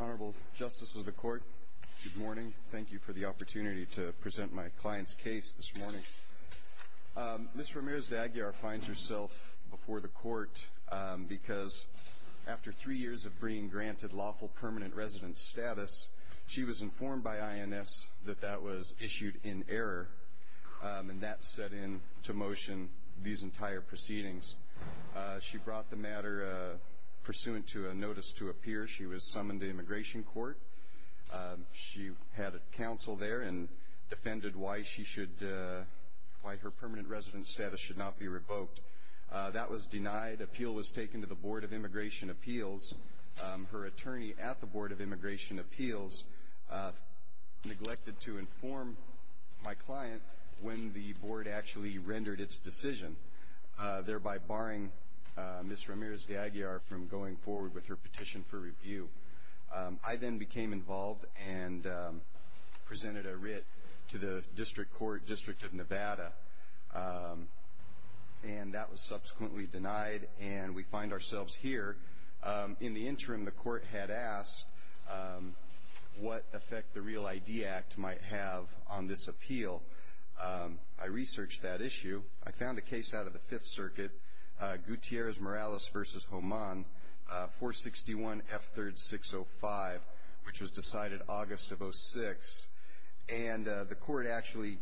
Honorable Justice of the Court, good morning. Thank you for the opportunity to present my client's case this morning. Ms. Ramirez De Aguirre finds herself before the court because after three years of being granted lawful permanent residence status, she was informed by INS that that was issued in error, and that set in to motion these entire proceedings. She brought the matter pursuant to a notice to appear. She was summoned to immigration court. She had a counsel there and defended why her permanent residence status should not be revoked. That was denied. Appeal was taken to the Board of Immigration Appeals. Her attorney at the Board of Immigration Appeals neglected to inform my client when the board actually rendered its decision, thereby barring Ms. Ramirez De Aguirre from going forward with her petition for review. I then became involved and presented a writ to the district court, District of Nevada, and that was subsequently denied, and we find ourselves here. In the interim, the court had asked what effect the REAL ID Act might have on this appeal. I researched that issue. I found a case out of the Fifth Circuit, Gutierrez-Morales v. Homon, 461 F3rd 605, which was decided August of 06, and the court actually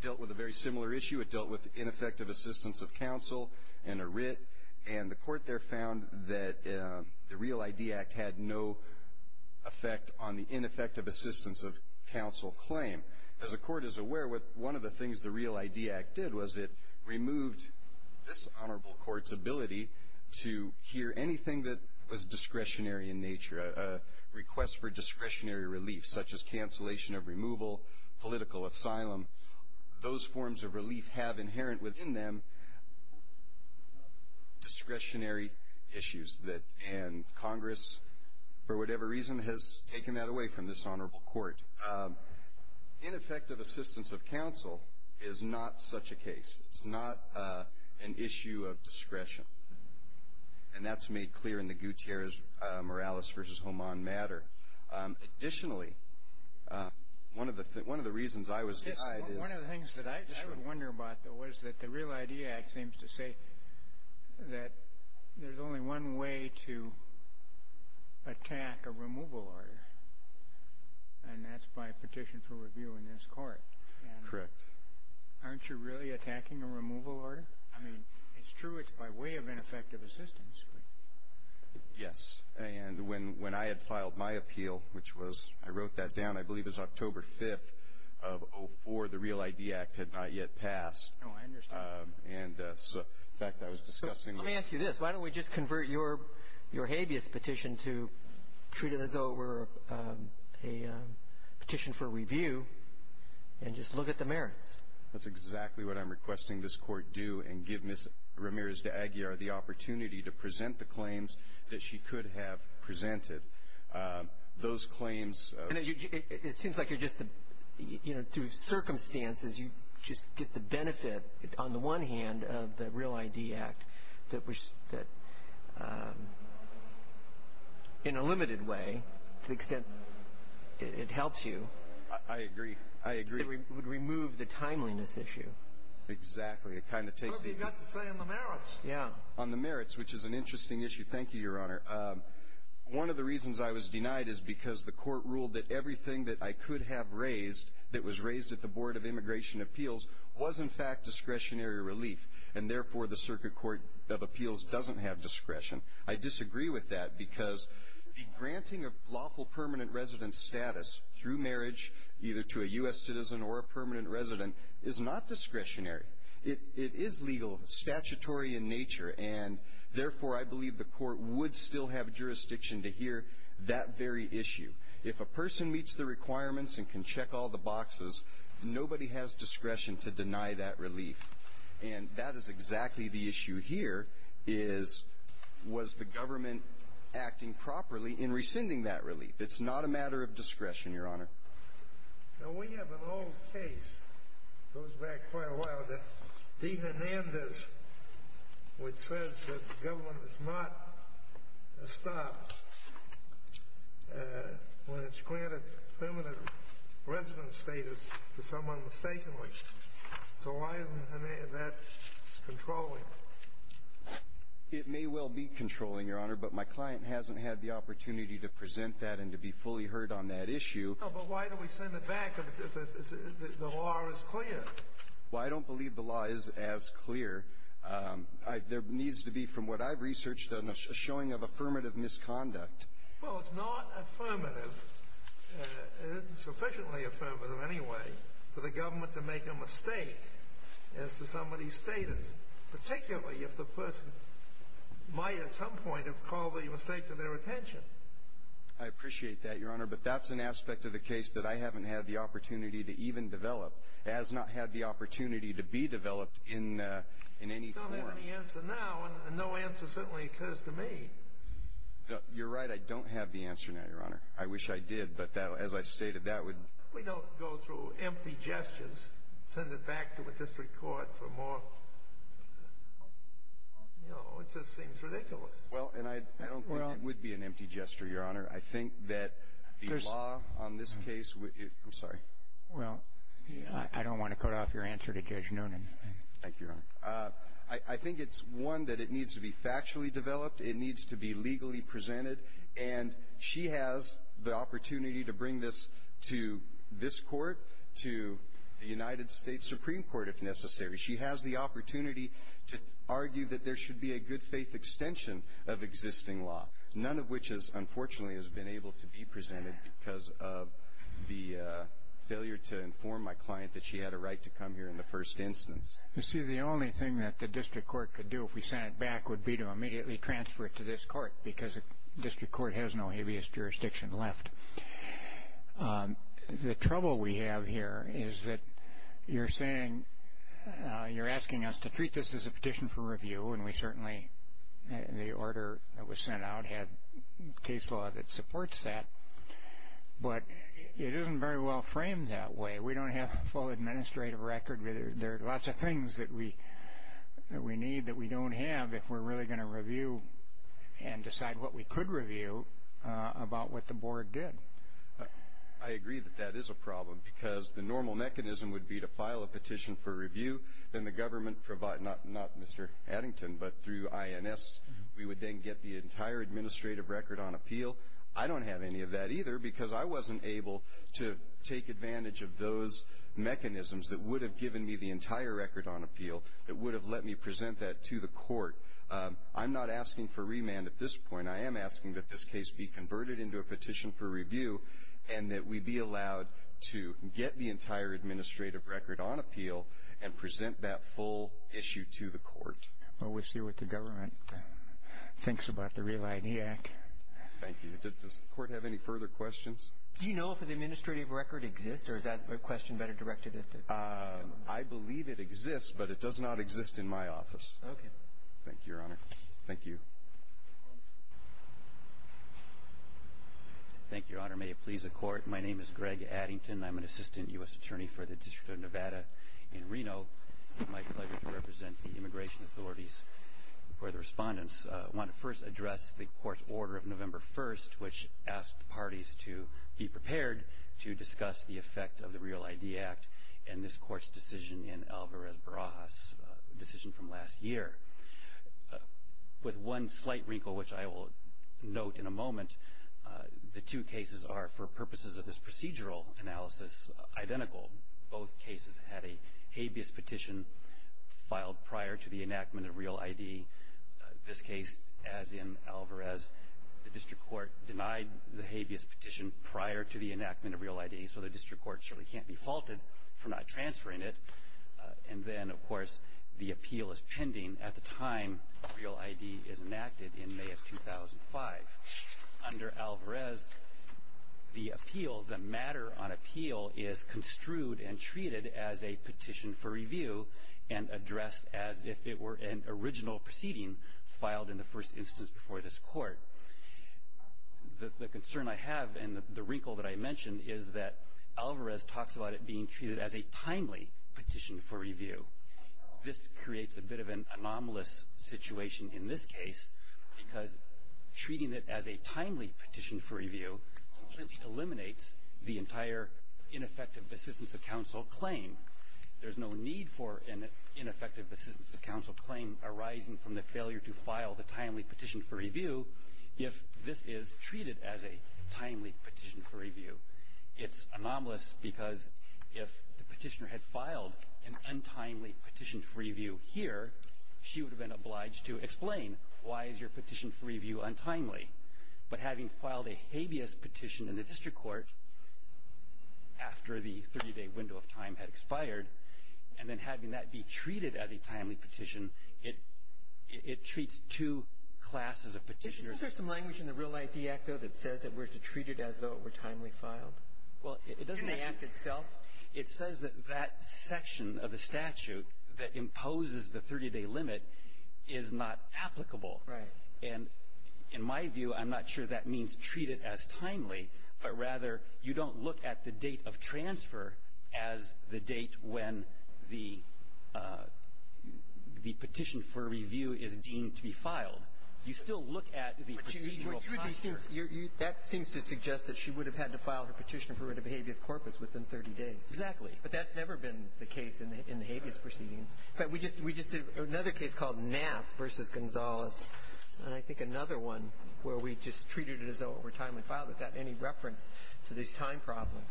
dealt with a very similar issue. It dealt with ineffective assistance of counsel and a writ, and the court there found that the REAL ID Act had no effect on the ineffective assistance of counsel claim. As the court is aware, one of the things the REAL ID Act did was it removed this honorable court's ability to hear anything that was discretionary in nature, a request for discretionary relief such as cancellation of removal, political asylum. Those forms of relief have inherent within them discretionary issues, and Congress, for whatever reason, has taken that away from this honorable court. Ineffective assistance of counsel is not such a case. It's not an issue of discretion, and that's made clear in the Gutierrez-Morales v. Homon matter. Additionally, one of the reasons I was behind is... One of the things that I would wonder about, though, was that the REAL ID Act seems to say that there's only one way to attack a removal order, and that's by petition for review in this court. Correct. Aren't you really attacking a removal order? I mean, it's true it's by way of ineffective assistance, but... Yes. And when I had filed my appeal, which was, I wrote that down, I believe it was October 5th of 2004, the REAL ID Act had not yet passed. Oh, I understand. And, in fact, I was discussing... Let me ask you this. Why don't we just convert your habeas petition to treat it as though it were a petition for review and just look at the merits? That's exactly what I'm requesting this court do and give Ms. Ramirez de Aguiar the opportunity to present the claims that she could have presented. Those claims... It seems like you're just... You know, through circumstances, you just get the benefit, on the one hand, of the REAL ID Act that, in a limited way, to the extent it helps you... I agree. I agree. It would remove the timeliness issue. Exactly. It kind of takes the... That's what you got to say on the merits. Yeah. On the merits, which is an interesting issue. Thank you, Your Honor. One of the reasons I was denied is because the court ruled that everything that I could have raised, that was raised at the Board of Immigration Appeals, was, in fact, discretionary relief. And, therefore, the Circuit Court of Appeals doesn't have discretion. I disagree with that because the granting of lawful permanent resident status through marriage, either to a U.S. citizen or a permanent resident, is not discretionary. It is legal, statutory in nature, and, therefore, I believe the court would still have jurisdiction to hear that very issue. If a person meets the requirements and can check all the boxes, nobody has discretion to deny that relief. And that is exactly the issue here, is, was the government acting properly in rescinding that relief? It's not a matter of discretion, Your Honor. Now, we have an old case that goes back quite a while, the D. Hernandez, which says that the government does not stop when it's granted permanent resident status to someone mistakenly. So why isn't that controlling? It may well be controlling, Your Honor, but my client hasn't had the opportunity to present that and to be fully heard on that issue. Oh, but why do we send it back if the law is clear? Well, I don't believe the law is as clear. There needs to be, from what I've researched, a showing of affirmative misconduct. Well, it's not affirmative. It isn't sufficiently affirmative, anyway, for the government to make a mistake as to somebody's status, particularly if the person might at some point have called the mistake to their attention. I appreciate that, Your Honor, but that's an aspect of the case that I haven't had the opportunity to even develop. It has not had the opportunity to be developed in any form. You don't have any answer now, and no answer certainly occurs to me. You're right. I don't have the answer now, Your Honor. I wish I did, but as I stated, that would — We don't go through empty gestures, send it back to a district court for more. You know, it just seems ridiculous. Well, and I don't think it would be an empty gesture, Your Honor. I think that the law on this case — I'm sorry. Well, I don't want to cut off your answer to Judge Noonan. Thank you, Your Honor. I think it's, one, that it needs to be factually developed. It needs to be legally presented. And she has the opportunity to bring this to this court, to the United States Supreme Court, if necessary. She has the opportunity to argue that there should be a good-faith extension of existing law, none of which, unfortunately, has been able to be presented because of the failure to inform my client that she had a right to come here in the first instance. You see, the only thing that the district court could do, if we sent it back, would be to immediately transfer it to this court because the district court has no habeas jurisdiction left. The trouble we have here is that you're saying — you're asking us to treat this as a petition for review, and we certainly, in the order that was sent out, had case law that supports that. But it isn't very well framed that way. We don't have a full administrative record. There are lots of things that we need that we don't have if we're really going to review and decide what we could review about what the board did. I agree that that is a problem because the normal mechanism would be to file a petition for review. Then the government provides — not Mr. Addington, but through INS, we would then get the entire administrative record on appeal. I don't have any of that either because I wasn't able to take advantage of those mechanisms that would have given me the entire record on appeal that would have let me present that to the court. I'm not asking for remand at this point. I am asking that this case be converted into a petition for review and that we be allowed to get the entire administrative record on appeal and present that full issue to the court. Well, we'll see what the government thinks about the Real ID Act. Thank you. Does the court have any further questions? Do you know if the administrative record exists, or is that a question better directed at the— I believe it exists, but it does not exist in my office. Thank you, Your Honor. Thank you. Thank you, Your Honor. May it please the court, my name is Greg Addington. I'm an assistant U.S. attorney for the District of Nevada in Reno. It's my pleasure to represent the immigration authorities. Before the respondents, I want to first address the court's order of November 1st, which asked the parties to be prepared to discuss the effect of the Real ID Act and this court's decision in Alvarez-Barajas, a decision from last year. With one slight wrinkle, which I will note in a moment, the two cases are, for purposes of this procedural analysis, identical. Both cases had a habeas petition filed prior to the enactment of Real ID. This case, as in Alvarez, the district court denied the habeas petition prior to the enactment of Real ID, so the district court surely can't be faulted for not transferring it. And then, of course, the appeal is pending at the time Real ID is enacted in May of 2005. Under Alvarez, the appeal, the matter on appeal, is construed and treated as a petition for review and addressed as if it were an original proceeding filed in the first instance before this court. The concern I have, and the wrinkle that I mentioned, is that Alvarez talks about it being treated as a timely petition for review. This creates a bit of an anomalous situation in this case because treating it as a timely petition for review completely eliminates the entire ineffective assistance of counsel claim. There's no need for an ineffective assistance of counsel claim arising from the failure to file the timely petition for review if this is treated as a timely petition for review. It's anomalous because if the petitioner had filed an untimely petition for review here, she would have been obliged to explain why is your petition for review untimely. But having filed a habeas petition in the district court after the 30-day window of time had expired, and then having that be treated as a timely petition, it treats two classes of petitioners. Is there some language in the Real ID Act, though, that says that we're to treat it as though it were timely filed? Well, it doesn't enact itself. It says that that section of the statute that imposes the 30-day limit is not applicable. Right. And in my view, I'm not sure that means treat it as timely, but rather you don't look at the date of transfer as the date when the petition for review is deemed to be filed. You still look at the procedural process. That seems to suggest that she would have had to file her petition for writ of habeas corpus within 30 days. Exactly. But that's never been the case in the habeas proceedings. We just did another case called Nath v. Gonzales, and I think another one where we just treated it as though it were timely filed. Is that any reference to these time problems?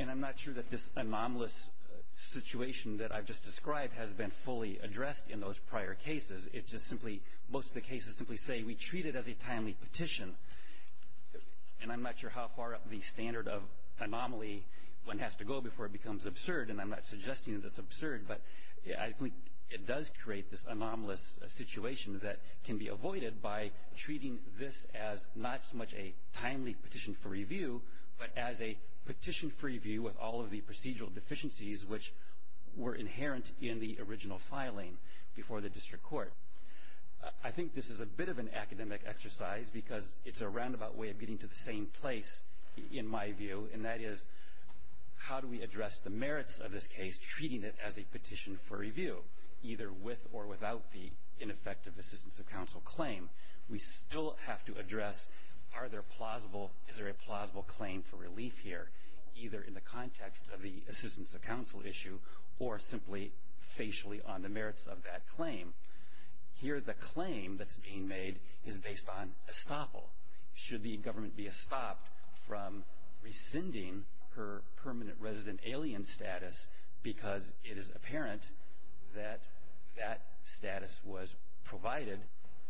And I'm not sure that this anomalous situation that I've just described has been fully addressed in those prior cases. It's just simply most of the cases simply say we treat it as a timely petition. And I'm not sure how far up the standard of anomaly one has to go before it becomes absurd, and I'm not suggesting that it's absurd, but I think it does create this anomalous situation that can be avoided by treating this as not so much a timely petition for review, but as a petition for review with all of the procedural deficiencies which were inherent in the original filing before the district court. I think this is a bit of an academic exercise because it's a roundabout way of getting to the same place, in my view, and that is how do we address the merits of this case treating it as a petition for review, either with or without the ineffective assistance of counsel claim? We still have to address is there a plausible claim for relief here, either in the context of the assistance of counsel issue or simply facially on the merits of that claim. Here the claim that's being made is based on estoppel. Should the government be estopped from rescinding her permanent resident alien status because it is apparent that that status was provided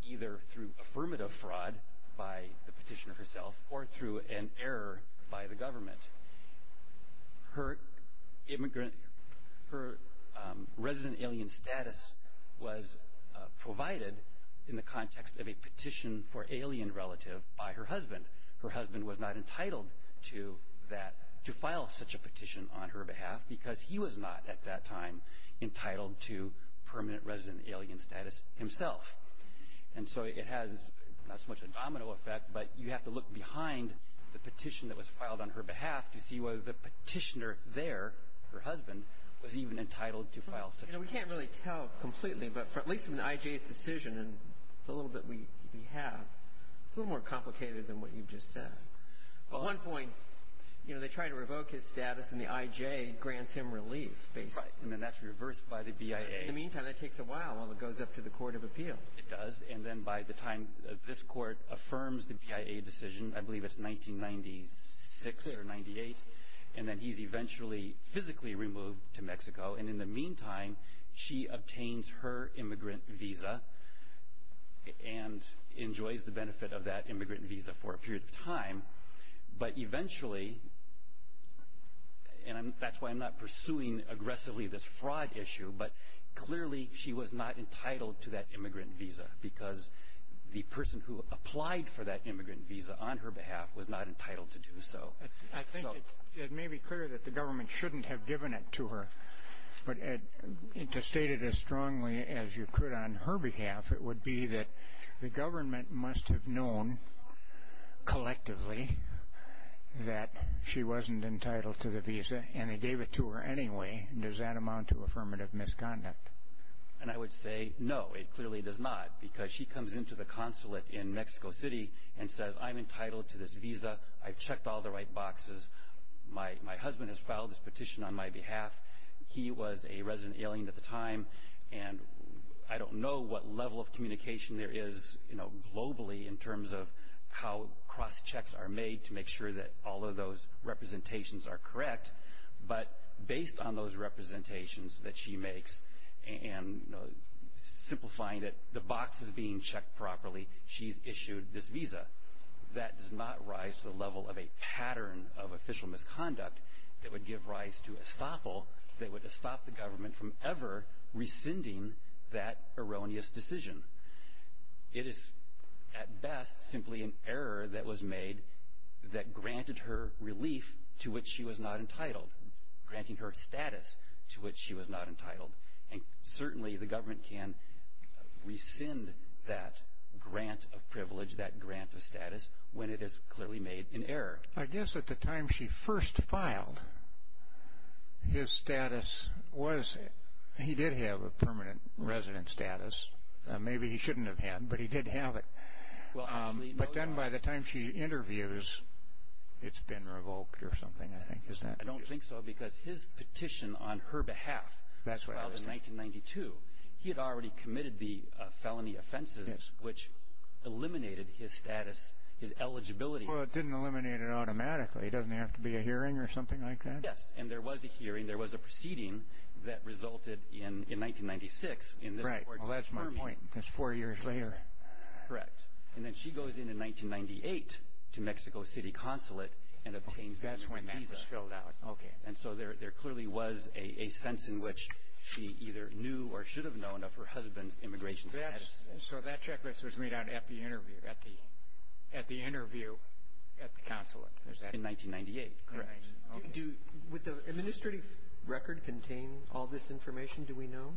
either through affirmative fraud by the petitioner herself or through an error by the government. Her resident alien status was provided in the context of a petition for alien relative by her husband. Her husband was not entitled to file such a petition on her behalf because he was not at that time entitled to permanent resident alien status himself. And so it has not so much a domino effect, but you have to look behind the petition that was filed on her behalf to see whether the petitioner there, her husband, was even entitled to file such a petition. We can't really tell completely, but at least from the IJ's decision and the little bit we have, it's a little more complicated than what you've just said. At one point, you know, they try to revoke his status and the IJ grants him relief basically. Right, and then that's reversed by the BIA. In the meantime, that takes a while while it goes up to the court of appeal. It does, and then by the time this court affirms the BIA decision, I believe it's 1996 or 98, and then he's eventually physically removed to Mexico. And in the meantime, she obtains her immigrant visa and enjoys the benefit of that immigrant visa for a period of time. But eventually, and that's why I'm not pursuing aggressively this fraud issue, but clearly she was not entitled to that immigrant visa because the person who applied for that immigrant visa on her behalf was not entitled to do so. I think it may be clear that the government shouldn't have given it to her, but to state it as strongly as you could on her behalf, it would be that the government must have known collectively that she wasn't entitled to the visa, and they gave it to her anyway, and does that amount to affirmative misconduct? And I would say no, it clearly does not, because she comes into the consulate in Mexico City and says, I'm entitled to this visa. I've checked all the right boxes. My husband has filed this petition on my behalf. He was a resident alien at the time, and I don't know what level of communication there is globally in terms of how cross-checks are made to make sure that all of those representations are correct. But based on those representations that she makes and simplifying it, the box is being checked properly. She's issued this visa. That does not rise to the level of a pattern of official misconduct that would give rise to estoppel. They would estop the government from ever rescinding that erroneous decision. It is at best simply an error that was made that granted her relief to which she was not entitled, granting her status to which she was not entitled. And certainly the government can rescind that grant of privilege, that grant of status, I guess at the time she first filed, his status was, he did have a permanent resident status. Maybe he shouldn't have had, but he did have it. But then by the time she interviews, it's been revoked or something, I think. I don't think so, because his petition on her behalf in 1992, he had already committed the felony offenses, which eliminated his status, his eligibility. Well, it didn't eliminate it automatically. Doesn't it have to be a hearing or something like that? Yes, and there was a hearing. There was a proceeding that resulted in 1996. Right. Well, that's my point. That's four years later. Correct. And then she goes in in 1998 to Mexico City Consulate and obtains a new visa. That's when that was filled out. Okay. And so there clearly was a sense in which she either knew or should have known of her husband's immigration status. And so that checklist was made out at the interview, at the interview at the consulate, is that correct? In 1998. Correct. Okay. Would the administrative record contain all this information? Do we know?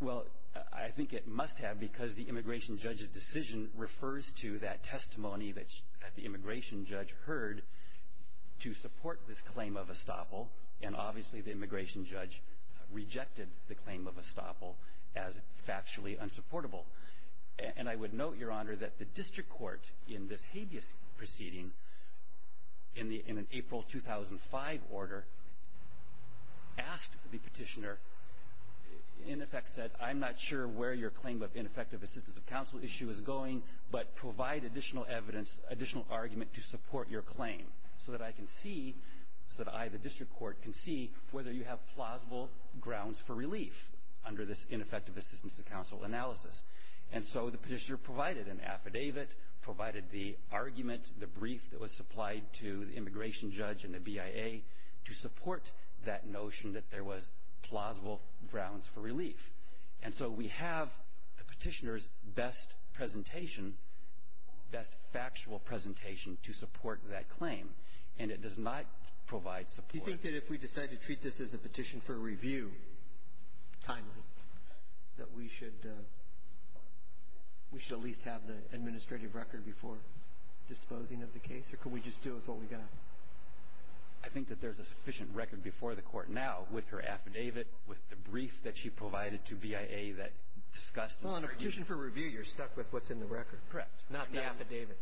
Well, I think it must have, because the immigration judge's decision refers to that testimony that the immigration judge heard to support this claim of estoppel, and obviously the immigration judge rejected the claim of estoppel as factually unsupportable. And I would note, Your Honor, that the district court in this habeas proceeding, in an April 2005 order, asked the petitioner, in effect said, I'm not sure where your claim of ineffective assistance of counsel issue is going, but provide additional evidence, additional argument to support your claim, so that I can see, so that I, the district court, can see whether you have plausible grounds for relief under this ineffective assistance of counsel analysis. And so the petitioner provided an affidavit, provided the argument, the brief that was supplied to the immigration judge and the BIA, to support that notion that there was plausible grounds for relief. And so we have the petitioner's best presentation, best factual presentation, to support that claim. And it does not provide support. Do you think that if we decide to treat this as a petition for review, timely, that we should at least have the administrative record before disposing of the case? Or could we just do with what we got? I think that there's a sufficient record before the court now, with her affidavit, with the brief that she provided to BIA that discussed the petition. Well, in a petition for review, you're stuck with what's in the record. Correct. Not the affidavit.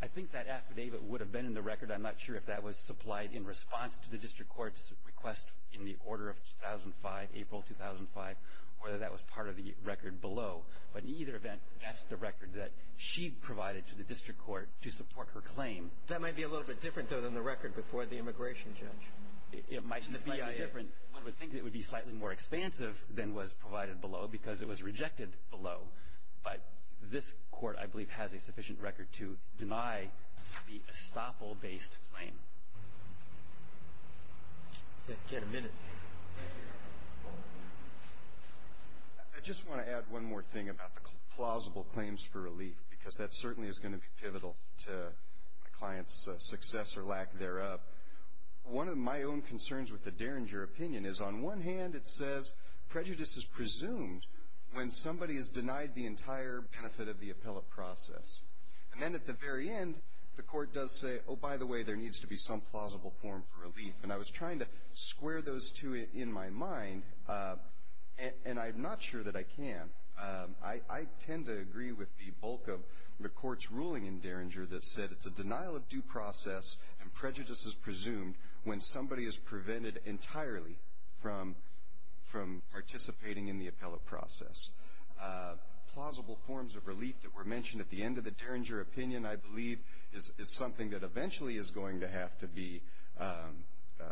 I think that affidavit would have been in the record. I'm not sure if that was supplied in response to the district court's request in the order of 2005, April 2005, whether that was part of the record below. But in either event, that's the record that she provided to the district court to support her claim. That might be a little bit different, though, than the record before the immigration judge. It might be slightly different. One would think it would be slightly more expansive than was provided below because it was rejected below. But this court, I believe, has a sufficient record to deny the estoppel-based claim. We've got a minute. I just want to add one more thing about the plausible claims for relief, because that certainly is going to be pivotal to a client's success or lack thereof. One of my own concerns with the Derringer opinion is, on one hand, it says prejudice is presumed when somebody is denied the entire benefit of the appellate process. And then at the very end, the court does say, oh, by the way, there needs to be some plausible form for relief. And I was trying to square those two in my mind, and I'm not sure that I can. I tend to agree with the bulk of the court's ruling in Derringer that said it's a denial of due process and prejudice is presumed when somebody is prevented entirely from participating in the appellate process. Plausible forms of relief that were mentioned at the end of the Derringer opinion, I believe, is something that eventually is going to have to be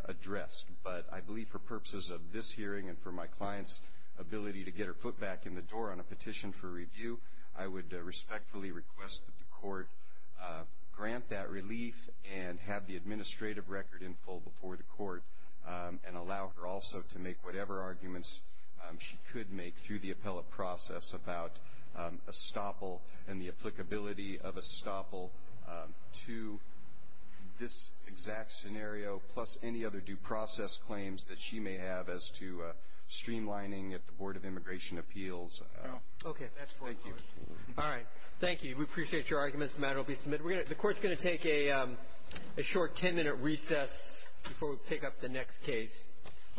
addressed. But I believe for purposes of this hearing and for my client's ability to get her foot back in the door on a petition for review, I would respectfully request that the court grant that relief and have the administrative record in full before the court and allow her also to make whatever arguments she could make through the appellate process about estoppel and the applicability of estoppel to this exact scenario, plus any other due process claims that she may have as to streamlining at the Board of Immigration Appeals. Okay. Thank you. All right. Thank you. We appreciate your arguments. The matter will be submitted. The court's going to take a short 10-minute recess before we pick up the next case on the case.